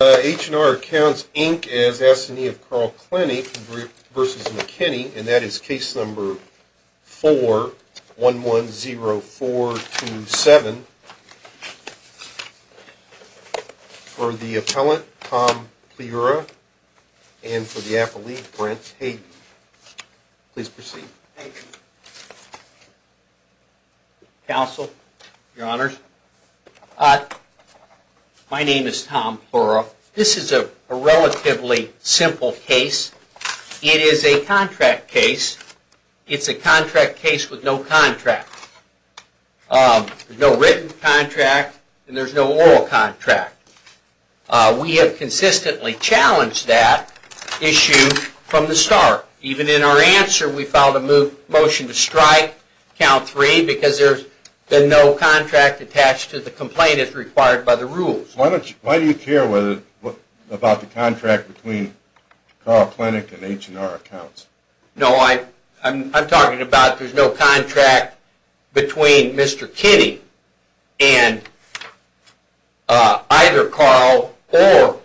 and that is Case Number 4-110-427 for the appellant, Tom Plura, and for the appellee, Brent Hayden. Please proceed. Thank you, counsel, your honors. My name is Tom Plura. This is a relatively simple case. It is a contract case. It's a contract case with no contract. There's no written contract and there's no oral contract. We have consistently challenged that issue from the start. Even in our answer, we filed a motion to strike, Count 3, because there's been no contract attached to the complaint as required by the rules. Why do you care about the contract between Carl Plenick and H & R Accounts? No, I'm talking about there's no contract between Mr. Kinney and either Carl or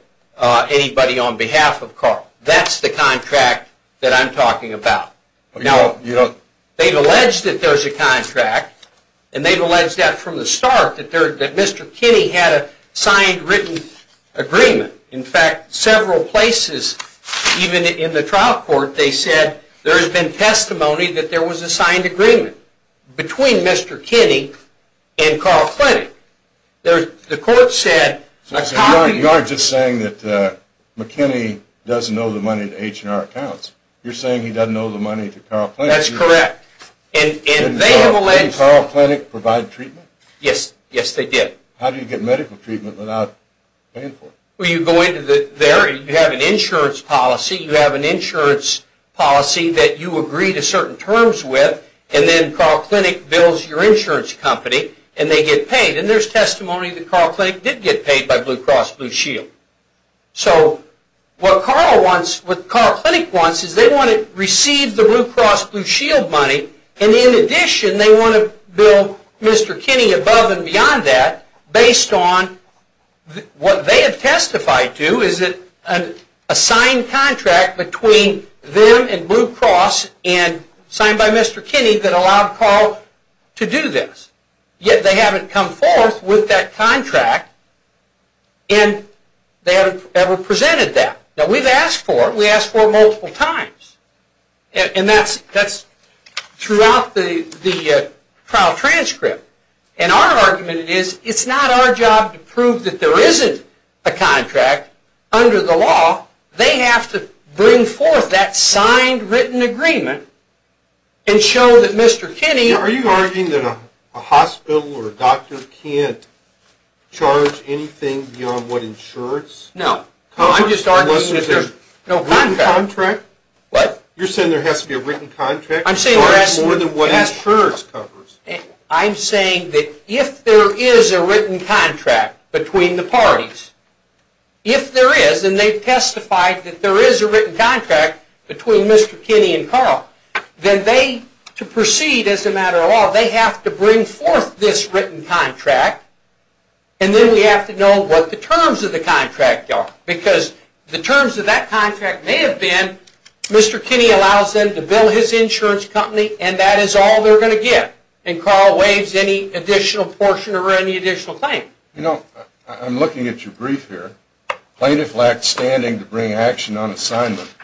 anybody on behalf of Carl. That's the contract that I'm talking about. They've alleged that there's a contract and they've alleged that from the start that Mr. Kinney had a signed written agreement. In fact, several places, even in the trial court, they said there's been testimony that there was a signed agreement between Mr. Kinney and Carl Plenick. You aren't just saying that Mr. Kinney doesn't owe the money to H & R Accounts. You're saying he doesn't owe the money to Carl Plenick. That's correct. Did Carl Plenick provide treatment? Yes, they did. How do you get medical treatment without paying for it? You have an insurance policy that you agree to certain terms with and then Carl Plenick bills your insurance company and they get paid. There's testimony that Carl Plenick did get paid by Blue Cross Blue Shield. What Carl Plenick wants is they want to receive the Blue Cross Blue Shield money and in addition they want to bill Mr. Kinney above and beyond that based on what they have testified to is a signed contract between them and Blue Cross and signed by Mr. Kinney that allowed Carl to do this. Yet they haven't come forth with that contract and they haven't ever presented that. Now we've asked for it. We've asked for it multiple times. And that's throughout the trial transcript. And our argument is it's not our job to prove that there isn't a contract under the law. They have to bring forth that signed written agreement and show that Mr. Kinney... A hospital or a doctor can't charge anything beyond what insurance? No. I'm just arguing that there's no contract. A written contract? What? You're saying there has to be a written contract to charge more than what insurance covers? I'm saying that if there is a written contract between the parties, if there is and they've testified that there is a written contract between Mr. Kinney and Carl, then they, to proceed as a matter of law, they have to bring forth this written contract and then we have to know what the terms of the contract are. Because the terms of that contract may have been Mr. Kinney allows them to bill his insurance company and that is all they're going to get. And Carl waives any additional portion or any additional claim. You know, I'm looking at your brief here. Plaintiff lacked standing to bring action on assignment.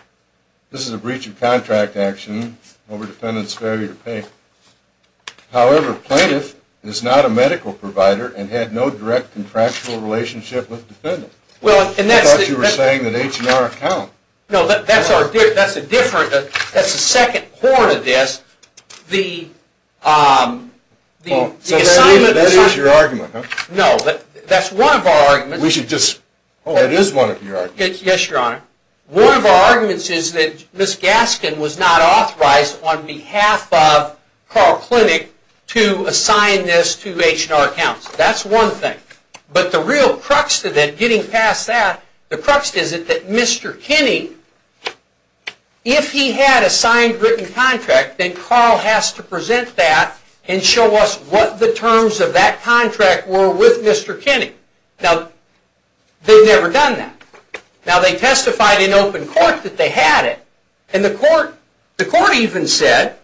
This is a breach of contract action over defendant's failure to pay. However, plaintiff is not a medical provider and had no direct contractual relationship with defendant. Well, and that's... I thought you were saying that H&R account... No, that's a different, that's the second part of this. The assignment... That is your argument, huh? No, that's one of our arguments. We should just... That is one of your arguments. Yes, Your Honor. One of our arguments is that Ms. Gaskin was not authorized on behalf of Carl Clinic to assign this to H&R accounts. That's one thing. But the real crux to that, getting past that, the crux is that Mr. Kinney, if he had a signed written contract, then Carl has to present that and show us what the terms of that contract were with Mr. Kinney. Now, they've never done that. Now, they testified in open court that they had it. And the court even said,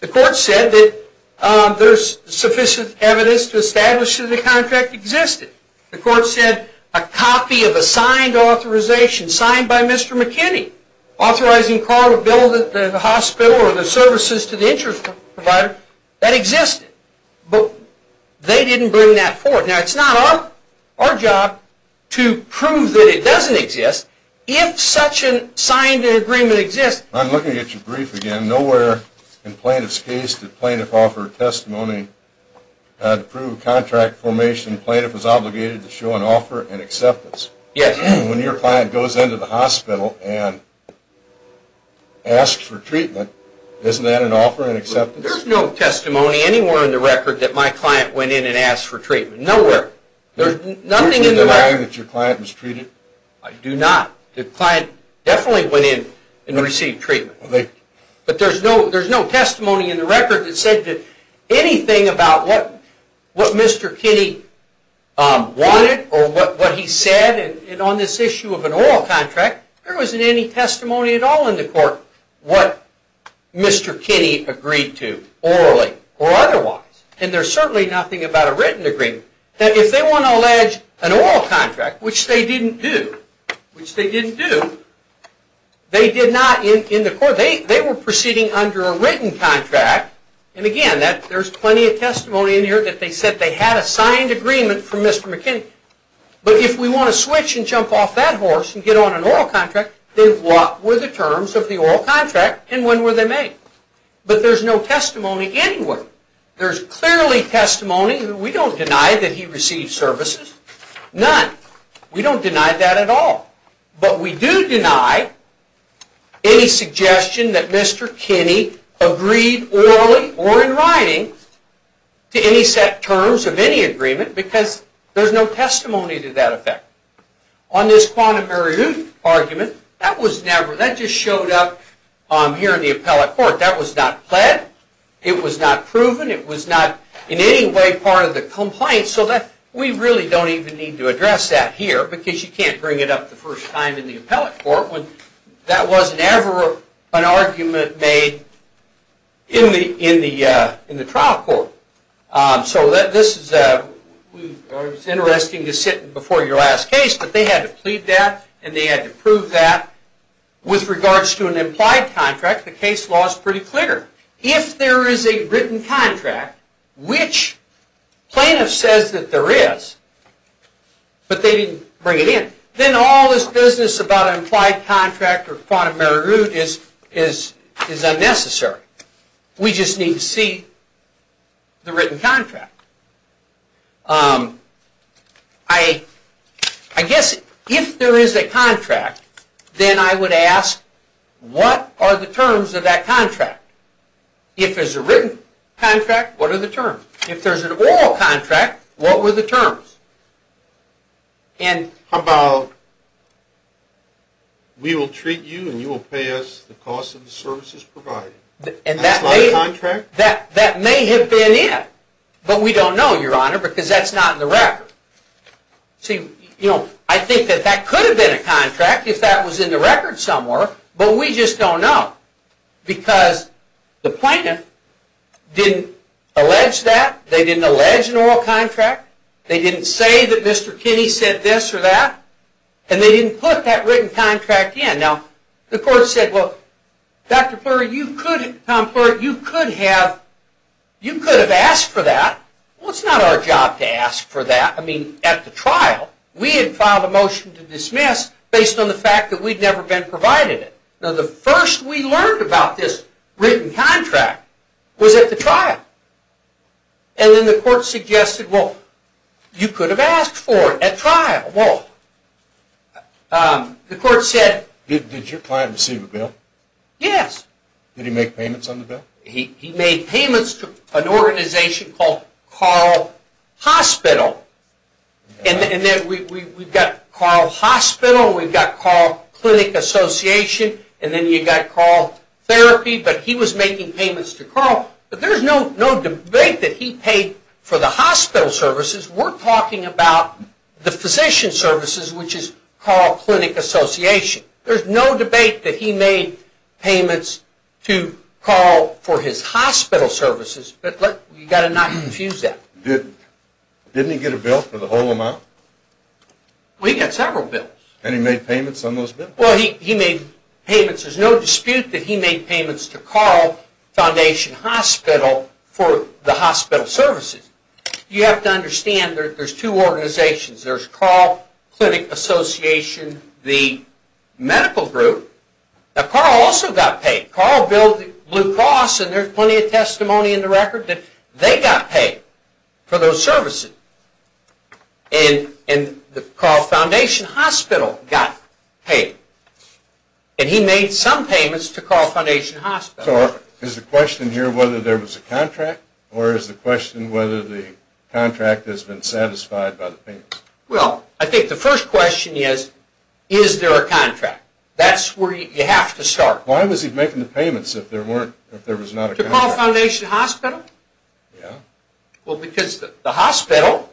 the court said that there's sufficient evidence to establish that the contract existed. The court said a copy of a signed authorization, signed by Mr. Kinney, authorizing Carl to build the hospital or the services to the insurance provider, that existed. But they didn't bring that forward. Now, it's not our job to prove that it doesn't exist. If such a signed agreement exists... I'm looking at your brief again. Nowhere in plaintiff's case did plaintiff offer testimony to prove contract formation. Plaintiff was obligated to show an offer and acceptance. Yes. When your client goes into the hospital and asks for treatment, isn't that an offer and acceptance? There's no testimony anywhere in the record that my client went in and asked for treatment. Nowhere. Don't you deny that your client was treated? I do not. The client definitely went in and received treatment. But there's no testimony in the record that said anything about what Mr. Kinney wanted or what he said. And on this issue of an oral contract, there wasn't any testimony at all in the court what Mr. Kinney agreed to, orally or otherwise. And there's certainly nothing about a written agreement. Now, if they want to allege an oral contract, which they didn't do, which they didn't do, they did not in the court. They were proceeding under a written contract. And again, there's plenty of testimony in here that they said they had a signed agreement from Mr. Kinney. But if we want to switch and jump off that horse and get on an oral contract, then what were the terms of the oral contract and when were they made? But there's no testimony anywhere. There's clearly testimony. We don't deny that he received services. None. We don't deny that at all. But we do deny any suggestion that Mr. Kinney agreed orally or in writing to any set terms of any agreement because there's no testimony to that effect. On this quantum meridian argument, that just showed up here in the appellate court. That was not pled. It was not proven. It was not in any way part of the complaint. So we really don't even need to address that here because you can't bring it up the first time in the appellate court when that wasn't ever an argument made in the trial court. So this is interesting to sit before your last case, but they had to plead that and they had to prove that. With regards to an implied contract, the case law is pretty clear. If there is a written contract, which plaintiff says that there is, but they didn't bring it in, then all this business about an implied contract or quantum meridian is unnecessary. We just need to see the written contract. I guess if there is a contract, then I would ask what are the terms of that contract? If there's a written contract, what are the terms? If there's an oral contract, what were the terms? How about we will treat you and you will pay us the cost of the services provided? That may have been it, but we don't know because that's not in the record. I think that could have been a contract if that was in the record somewhere, but we just don't know because the plaintiff didn't allege that, they didn't allege an oral contract, they didn't say that Mr. Kinney said this or that, and they didn't put that written contract in. The court said, Tom Pluritt, you could have asked for that. It's not our job to ask for that at the trial. We had filed a motion to dismiss based on the fact that we'd never been provided it. The first we learned about this written contract was at the trial. Then the court suggested, you could have asked for it at trial. The court said... Did your client receive a bill? Yes. Did he make payments on the bill? He made payments to an organization called Carl Hospital. We've got Carl Hospital, we've got Carl Clinic Association, and then you've got Carl Therapy, but he was making payments to Carl. There's no debate that he paid for the hospital services. We're talking about the physician services, which is Carl Clinic Association. There's no debate that he made payments to Carl for his hospital services, but you've got to not confuse that. Didn't he get a bill for the whole amount? Well, he got several bills. And he made payments on those bills? Well, he made payments. There's no dispute that he made payments to Carl Foundation Hospital for the hospital services. You have to understand there's two organizations. There's Carl Clinic Association, the medical group. Now, Carl also got paid. Carl built Blue Cross, and there's plenty of testimony in the record that they got paid for those services. And Carl Foundation Hospital got paid. And he made some payments to Carl Foundation Hospital. So is the question here whether there was a contract, or is the question whether the contract has been satisfied by the payments? Well, I think the first question is, is there a contract? That's where you have to start. Why was he making the payments if there was not a contract? To Carl Foundation Hospital? Yeah. Well, because the hospital,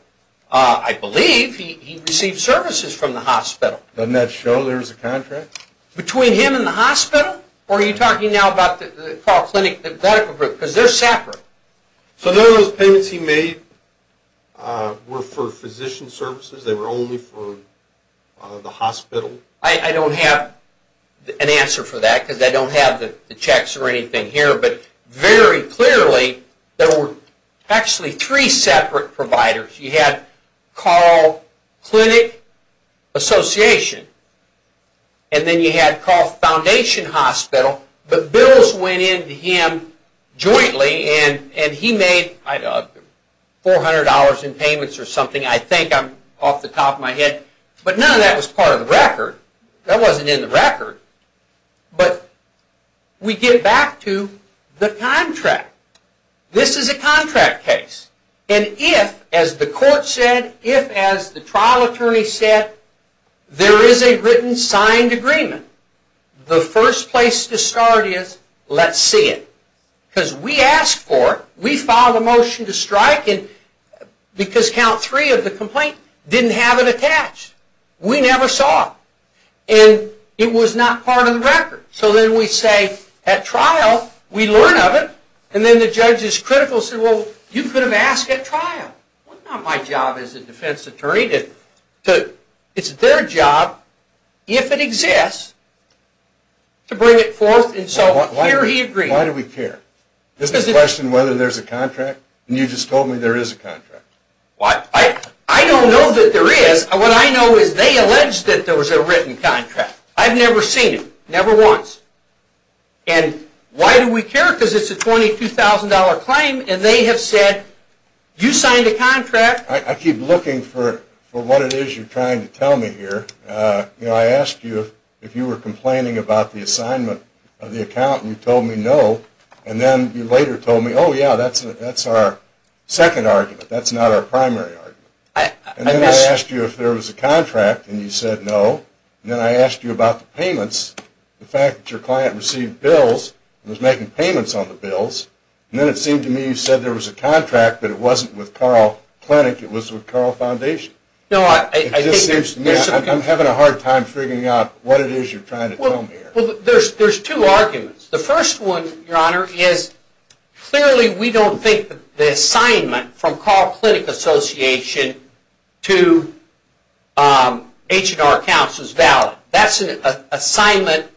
I believe, he received services from the hospital. Doesn't that show there's a contract? Between him and the hospital? Or are you talking now about the Carl Clinic Medical Group? Because they're separate. So those payments he made were for physician services? They were only for the hospital? I don't have an answer for that because I don't have the checks or anything here. But very clearly, there were actually three separate providers. You had Carl Clinic Association. And then you had Carl Foundation Hospital. But bills went in to him jointly. And he made $400 in payments or something. I think. I'm off the top of my head. But none of that was part of the record. That wasn't in the record. But we get back to the contract. This is a contract case. And if, as the court said, if, as the trial attorney said, there is a written signed agreement, the first place to start is let's see it. Because we asked for it. We filed a motion to strike it because Count 3 of the complaint didn't have it attached. We never saw it. And it was not part of the record. So then we say, at trial, we learn of it. And then the judge is critical and said, well, you could have asked at trial. It's not my job as a defense attorney. It's their job, if it exists, to bring it forth. And so here he agrees. Why do we care? Isn't the question whether there's a contract? And you just told me there is a contract. I don't know that there is. What I know is they allege that there was a written contract. I've never seen it. Never once. And why do we care? Because it's a $22,000 claim, and they have said, you signed a contract. I keep looking for what it is you're trying to tell me here. You know, I asked you if you were complaining about the assignment of the account, and you told me no. And then you later told me, oh, yeah, that's our second argument. That's not our primary argument. And then I asked you if there was a contract, and you said no. And then I asked you about the payments. The fact that your client received bills and was making payments on the bills. And then it seemed to me you said there was a contract, but it wasn't with Carl Clinic. It was with Carl Foundation. It just seems to me I'm having a hard time figuring out what it is you're trying to tell me here. Well, there's two arguments. The first one, Your Honor, is clearly we don't think the assignment from Carl Clinic Association to H&R Counts is valid. That's an assignment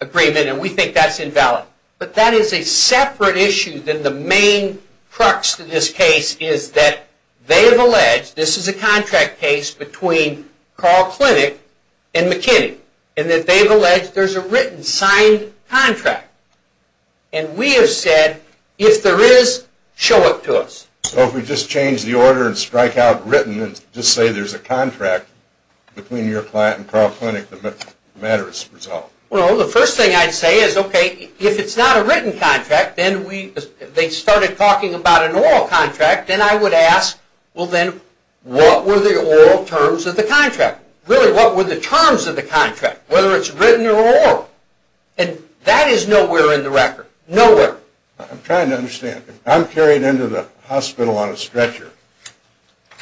agreement, and we think that's invalid. But that is a separate issue than the main crux to this case is that they have alleged, this is a contract case between Carl Clinic and McKinney, and that they've alleged there's a written signed contract. And we have said, if there is, show it to us. So if we just change the order and strike out written and just say there's a contract between your client and Carl Clinic, the matter is resolved. Well, the first thing I'd say is, okay, if it's not a written contract, then they started talking about an oral contract, and I would ask, well, then, what were the oral terms of the contract? Really, what were the terms of the contract, whether it's written or oral? And that is nowhere in the record. Nowhere. I'm trying to understand. If I'm carried into the hospital on a stretcher,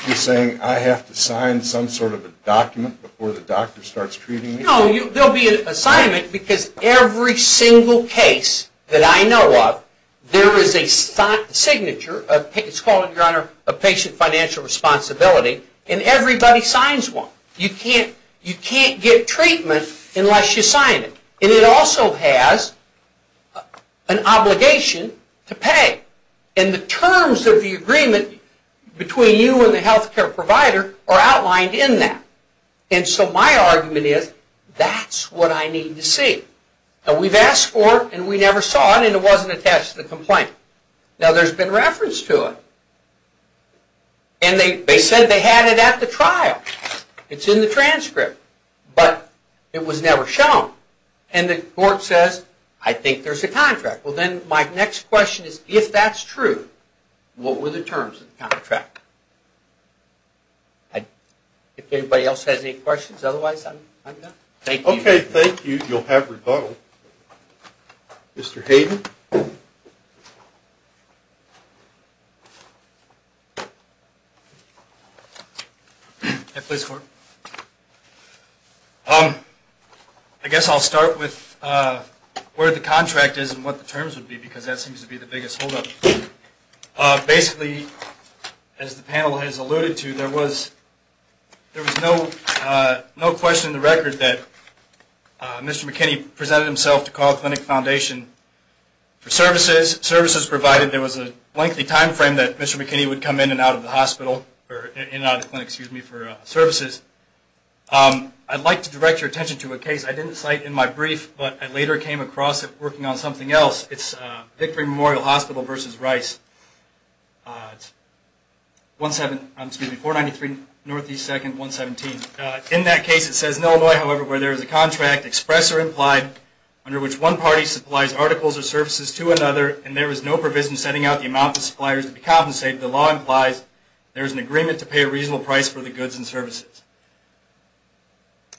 you're saying I have to sign some sort of a document before the doctor starts treating me? No, there will be an assignment because every single case that I know of, there is a signature, it's called, Your Honor, a patient financial responsibility, and everybody signs one. You can't get treatment unless you sign it. And it also has an obligation to pay. And the terms of the agreement between you and the health care provider are outlined in that. And so my argument is, that's what I need to see. Now, we've asked for it, and we never saw it, and it wasn't attached to the complaint. Now, there's been reference to it. And they said they had it at the trial. It's in the transcript, but it was never shown. And the court says, I think there's a contract. Well, then my next question is, if that's true, what were the terms of the contract? If anybody else has any questions, otherwise I'm done. Thank you. Okay, thank you. You'll have rebuttal. Mr. Hayden. I guess I'll start with where the contract is and what the terms would be, because that seems to be the biggest holdup. Basically, as the panel has alluded to, there was no question in the record that Mr. McKinney presented himself to Carl Clinic Foundation for services. Services provided, there was a lengthy time frame that Mr. McKinney would come in and out of the hospital, or in and out of the clinic, excuse me, for services. I'd like to direct your attention to a case I didn't cite in my brief, but I later came across it working on something else. It's Victory Memorial Hospital versus Rice. It's 493 Northeast 2nd, 117. In that case, it says, in Illinois, however, where there is a contract, express or implied, under which one party supplies articles or services to another, and there is no provision setting out the amount the supplier is to be compensated, the law implies there is an agreement to pay a reasonable price for the goods and services.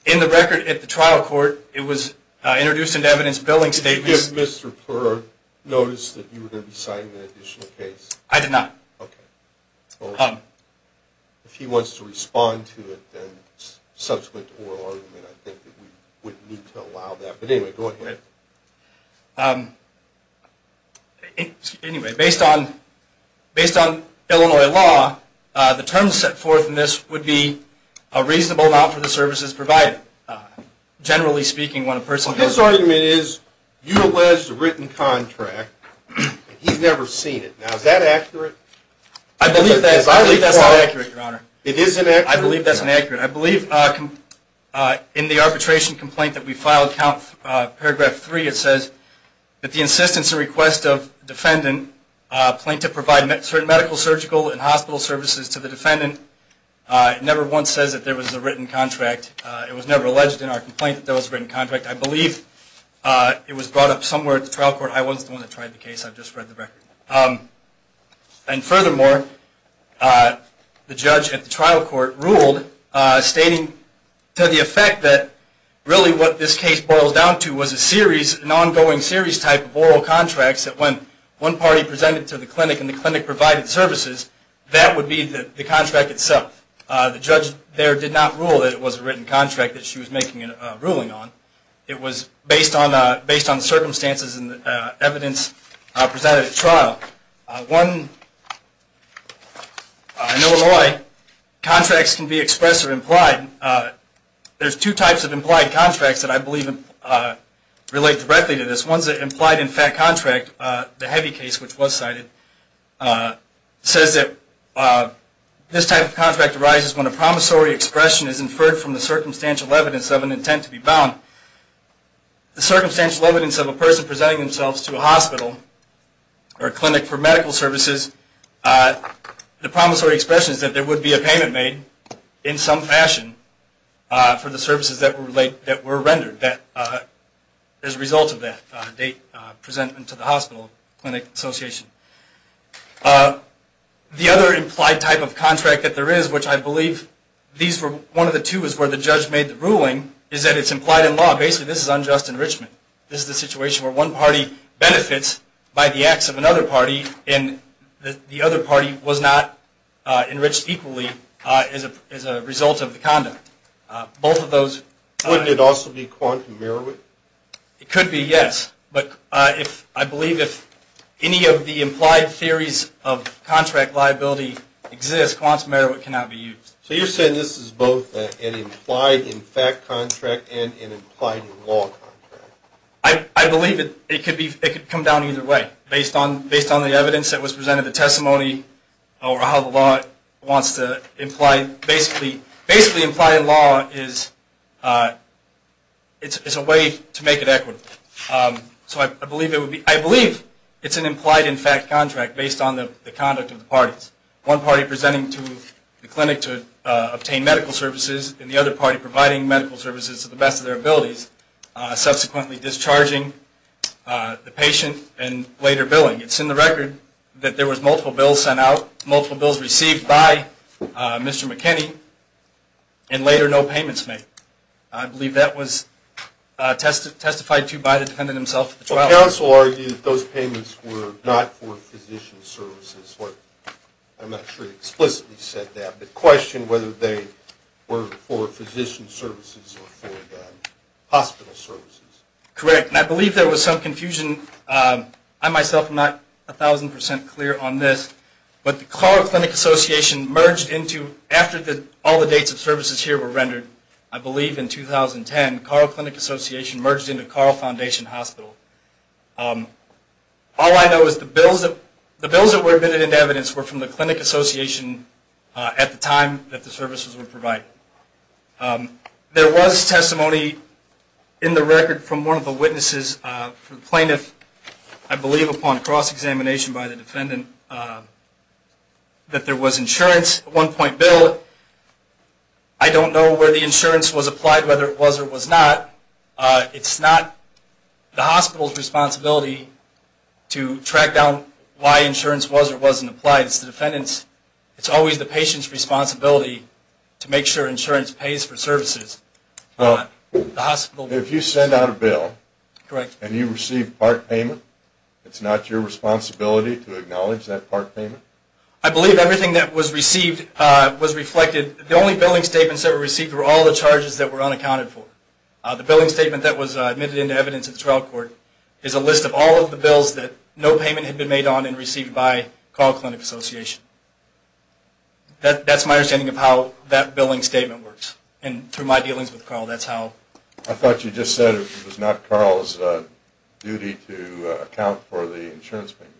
In the record at the trial court, it was introduced into evidence billing statements. Did Mr. Purr notice that you were going to be citing an additional case? I did not. Okay. If he wants to respond to it, then subsequent to oral argument, I think that we wouldn't need to allow that. But anyway, go ahead. Anyway, based on Illinois law, the terms set forth in this would be a reasonable amount for the services provided. Generally speaking, when a person- Well, his argument is, you alleged a written contract, and he's never seen it. Now, is that accurate? I believe that's not accurate, Your Honor. It is inaccurate? I believe that's inaccurate. I believe in the arbitration complaint that we filed, paragraph 3, it says, that the insistence and request of defendant, plaintiff providing medical, surgical, and hospital services to the defendant, never once says that there was a written contract. It was never alleged in our complaint that there was a written contract. I believe it was brought up somewhere at the trial court. I wasn't the one that tried the case. I've just read the record. And furthermore, the judge at the trial court ruled, stating to the effect that really what this case boils down to was an ongoing series type of oral contracts that when one party presented to the clinic and the clinic provided services, that would be the contract itself. The judge there did not rule that it was a written contract that she was making a ruling on. It was based on circumstances and evidence presented at trial. One- I know in a way, contracts can be expressed or implied. There's two types of implied contracts that I believe relate directly to this. One's an implied in fact contract, the heavy case which was cited, says that this type of contract arises when a promissory expression is inferred from the circumstantial evidence of an intent to be bound. The circumstantial evidence of a person presenting themselves to a hospital or clinic for medical services, the promissory expression is that there would be a payment made in some fashion for the services that were rendered as a result of that date presented to the hospital, clinic, association. The other implied type of contract that there is, which I believe these were one of the two is where the judge made the ruling, is that it's implied in law. Basically this is unjust enrichment. This is a situation where one party benefits by the acts of another party and the other party was not enriched equally as a result of the conduct. Both of those- Wouldn't it also be quantum merit? It could be, yes. But I believe if any of the implied theories of contract liability exist, quantum merit cannot be used. So you're saying this is both an implied in fact contract and an implied in law contract. I believe it could come down either way. Based on the evidence that was presented, the testimony, or how the law wants to imply- Basically implied in law is a way to make it equitable. So I believe it's an implied in fact contract based on the conduct of the parties. One party presenting to the clinic to obtain medical services and the other party providing medical services to the best of their abilities. Subsequently discharging the patient and later billing. It's in the record that there was multiple bills sent out, multiple bills received by Mr. McKinney, and later no payments made. I believe that was testified to by the defendant himself at the trial. Counsel argued that those payments were not for physician services. I'm not sure he explicitly said that, but questioned whether they were for physician services or for hospital services. Correct. And I believe there was some confusion. I myself am not a thousand percent clear on this, but the Carle Clinic Association merged into- after all the dates of services here were rendered, I believe in 2010, the Carle Clinic Association merged into Carle Foundation Hospital. All I know is the bills that were admitted into evidence were from the clinic association at the time that the services were provided. There was testimony in the record from one of the witnesses, the plaintiff, I believe upon cross-examination by the defendant, that there was insurance. One point bill, I don't know where the insurance was applied, whether it was or was not. It's not the hospital's responsibility to track down why insurance was or wasn't applied. It's the defendant's. It's always the patient's responsibility to make sure insurance pays for services. If you send out a bill and you receive part payment, it's not your responsibility to acknowledge that part payment? I believe everything that was received was reflected. The only billing statements that were received were all the charges that were unaccounted for. The billing statement that was admitted into evidence at the trial court is a list of all of the bills that no payment had been made on and received by Carle Clinic Association. That's my understanding of how that billing statement works. And through my dealings with Carle, that's how. I thought you just said it was not Carle's duty to account for the insurance payments.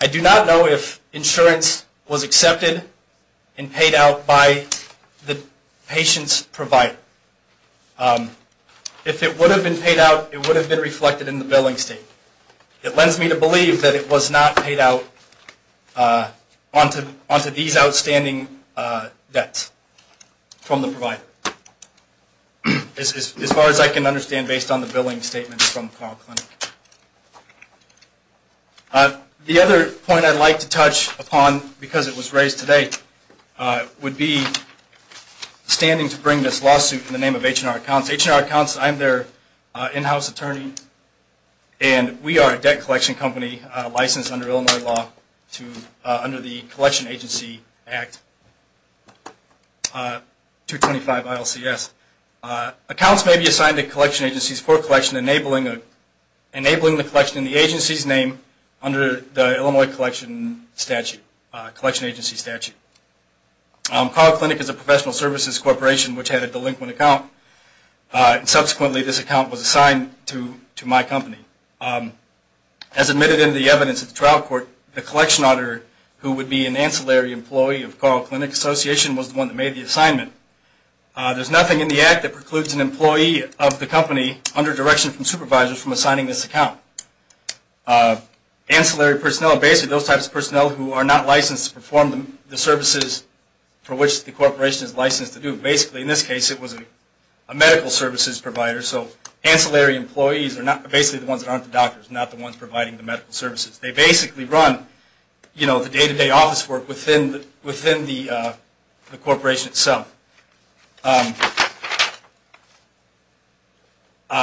I do not know if insurance was accepted and paid out by the patient's provider. If it would have been paid out, it would have been reflected in the billing statement. It lends me to believe that it was not paid out onto these outstanding debts from the provider. As far as I can understand, based on the billing statement from Carle Clinic. The other point I'd like to touch upon, because it was raised today, would be standing to bring this lawsuit in the name of H&R Accounts. H&R Accounts, I'm their in-house attorney, and we are a debt collection company licensed under Illinois law under the Collection Agency Act. 225 ILCS. Accounts may be assigned to collection agencies for collection, enabling the collection in the agency's name under the Illinois collection agency statute. Carle Clinic is a professional services corporation which had a delinquent account. Subsequently, this account was assigned to my company. As admitted in the evidence at the trial court, the collection auditor who would be an ancillary employee of Carle Clinic Association was the one that made the assignment. There's nothing in the act that precludes an employee of the company under direction from supervisors from assigning this account. Ancillary personnel are basically those types of personnel who are not licensed to perform the services for which the corporation is licensed to do. Basically, in this case, it was a medical services provider. So, ancillary employees are basically the ones that aren't the doctors, not the ones providing the medical services. They basically run the day-to-day office work within the corporation itself.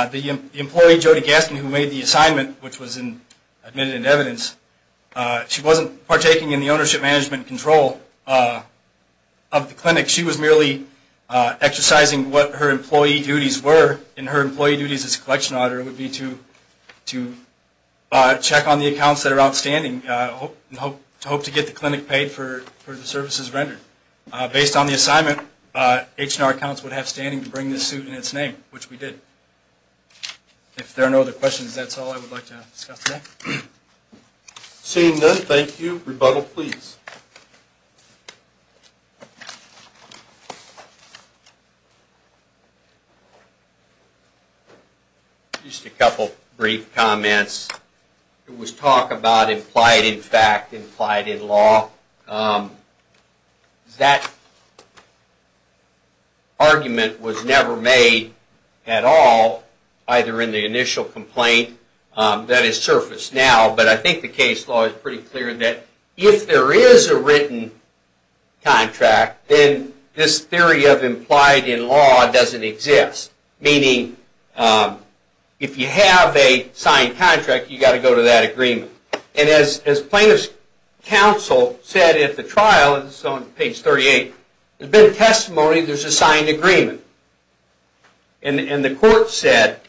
The employee, Jodi Gaskin, who made the assignment, which was admitted in evidence, she wasn't partaking in the ownership, management, and control of the clinic. She was merely exercising what her employee duties were. And her employee duties as a collection auditor would be to check on the accounts that are outstanding and hope to get the clinic paid for the services rendered. Based on the assignment, H&R accounts would have standing to bring this suit in its name, which we did. If there are no other questions, that's all I would like to discuss today. Seeing none, thank you. Rebuttal, please. Just a couple of brief comments. It was talk about implied in fact, implied in law. That argument was never made at all, either in the initial complaint that has surfaced now, but I think the case law is pretty clear that if there is a written contract, then this theory of implied in law doesn't exist. Meaning, if you have a signed contract, you've got to go to that agreement. And as plaintiff's counsel said at the trial, this is on page 38, there's been testimony there's a signed agreement. And the court said,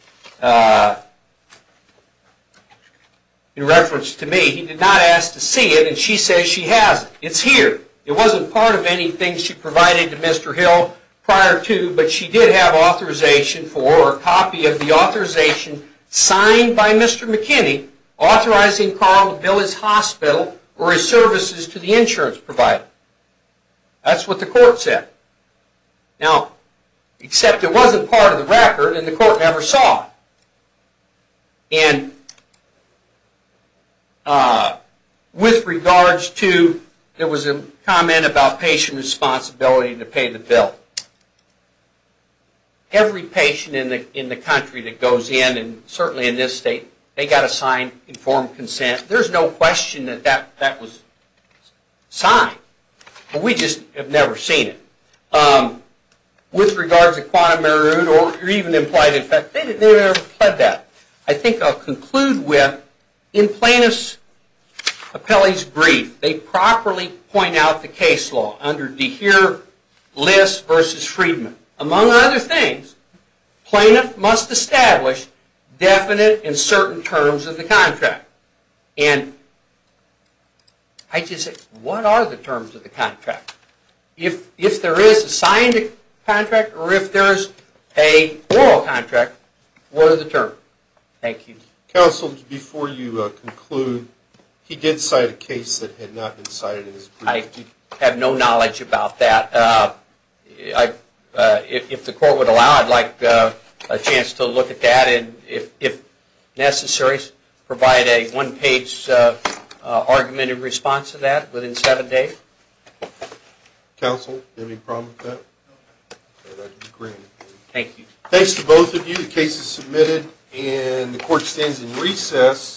in reference to me, he did not ask to see it, and she says she has it. It's here. It wasn't part of anything she provided to Mr. Hill prior to, but she did have authorization for a copy of the authorization signed by Mr. McKinney authorizing Carl to bill his hospital or his services to the insurance provider. That's what the court said. Now, except it wasn't part of the record, and the court never saw it. And with regards to, there was a comment about patient responsibility to pay the bill. Every patient in the country that goes in, and certainly in this state, they've got to sign informed consent. There's no question that that was signed. We just have never seen it. With regards to quantum merude or even implied in fact, they never said that. I think I'll conclude with, in plaintiff's appellee's brief, they properly point out the case law under DeHeer-Liss v. Friedman. Among other things, plaintiff must establish definite and certain terms of the contract. And I just said, what are the terms of the contract? If there is a signed contract or if there is a oral contract, what are the terms? Thank you. Counsel, before you conclude, he did cite a case that had not been cited in his brief. I have no knowledge about that. If the court would allow, I'd like a chance to look at that and, if necessary, provide a one-page argument in response to that within seven days. Counsel, do you have any problem with that? Thank you. Thanks to both of you. The case is submitted and the court stands in recess.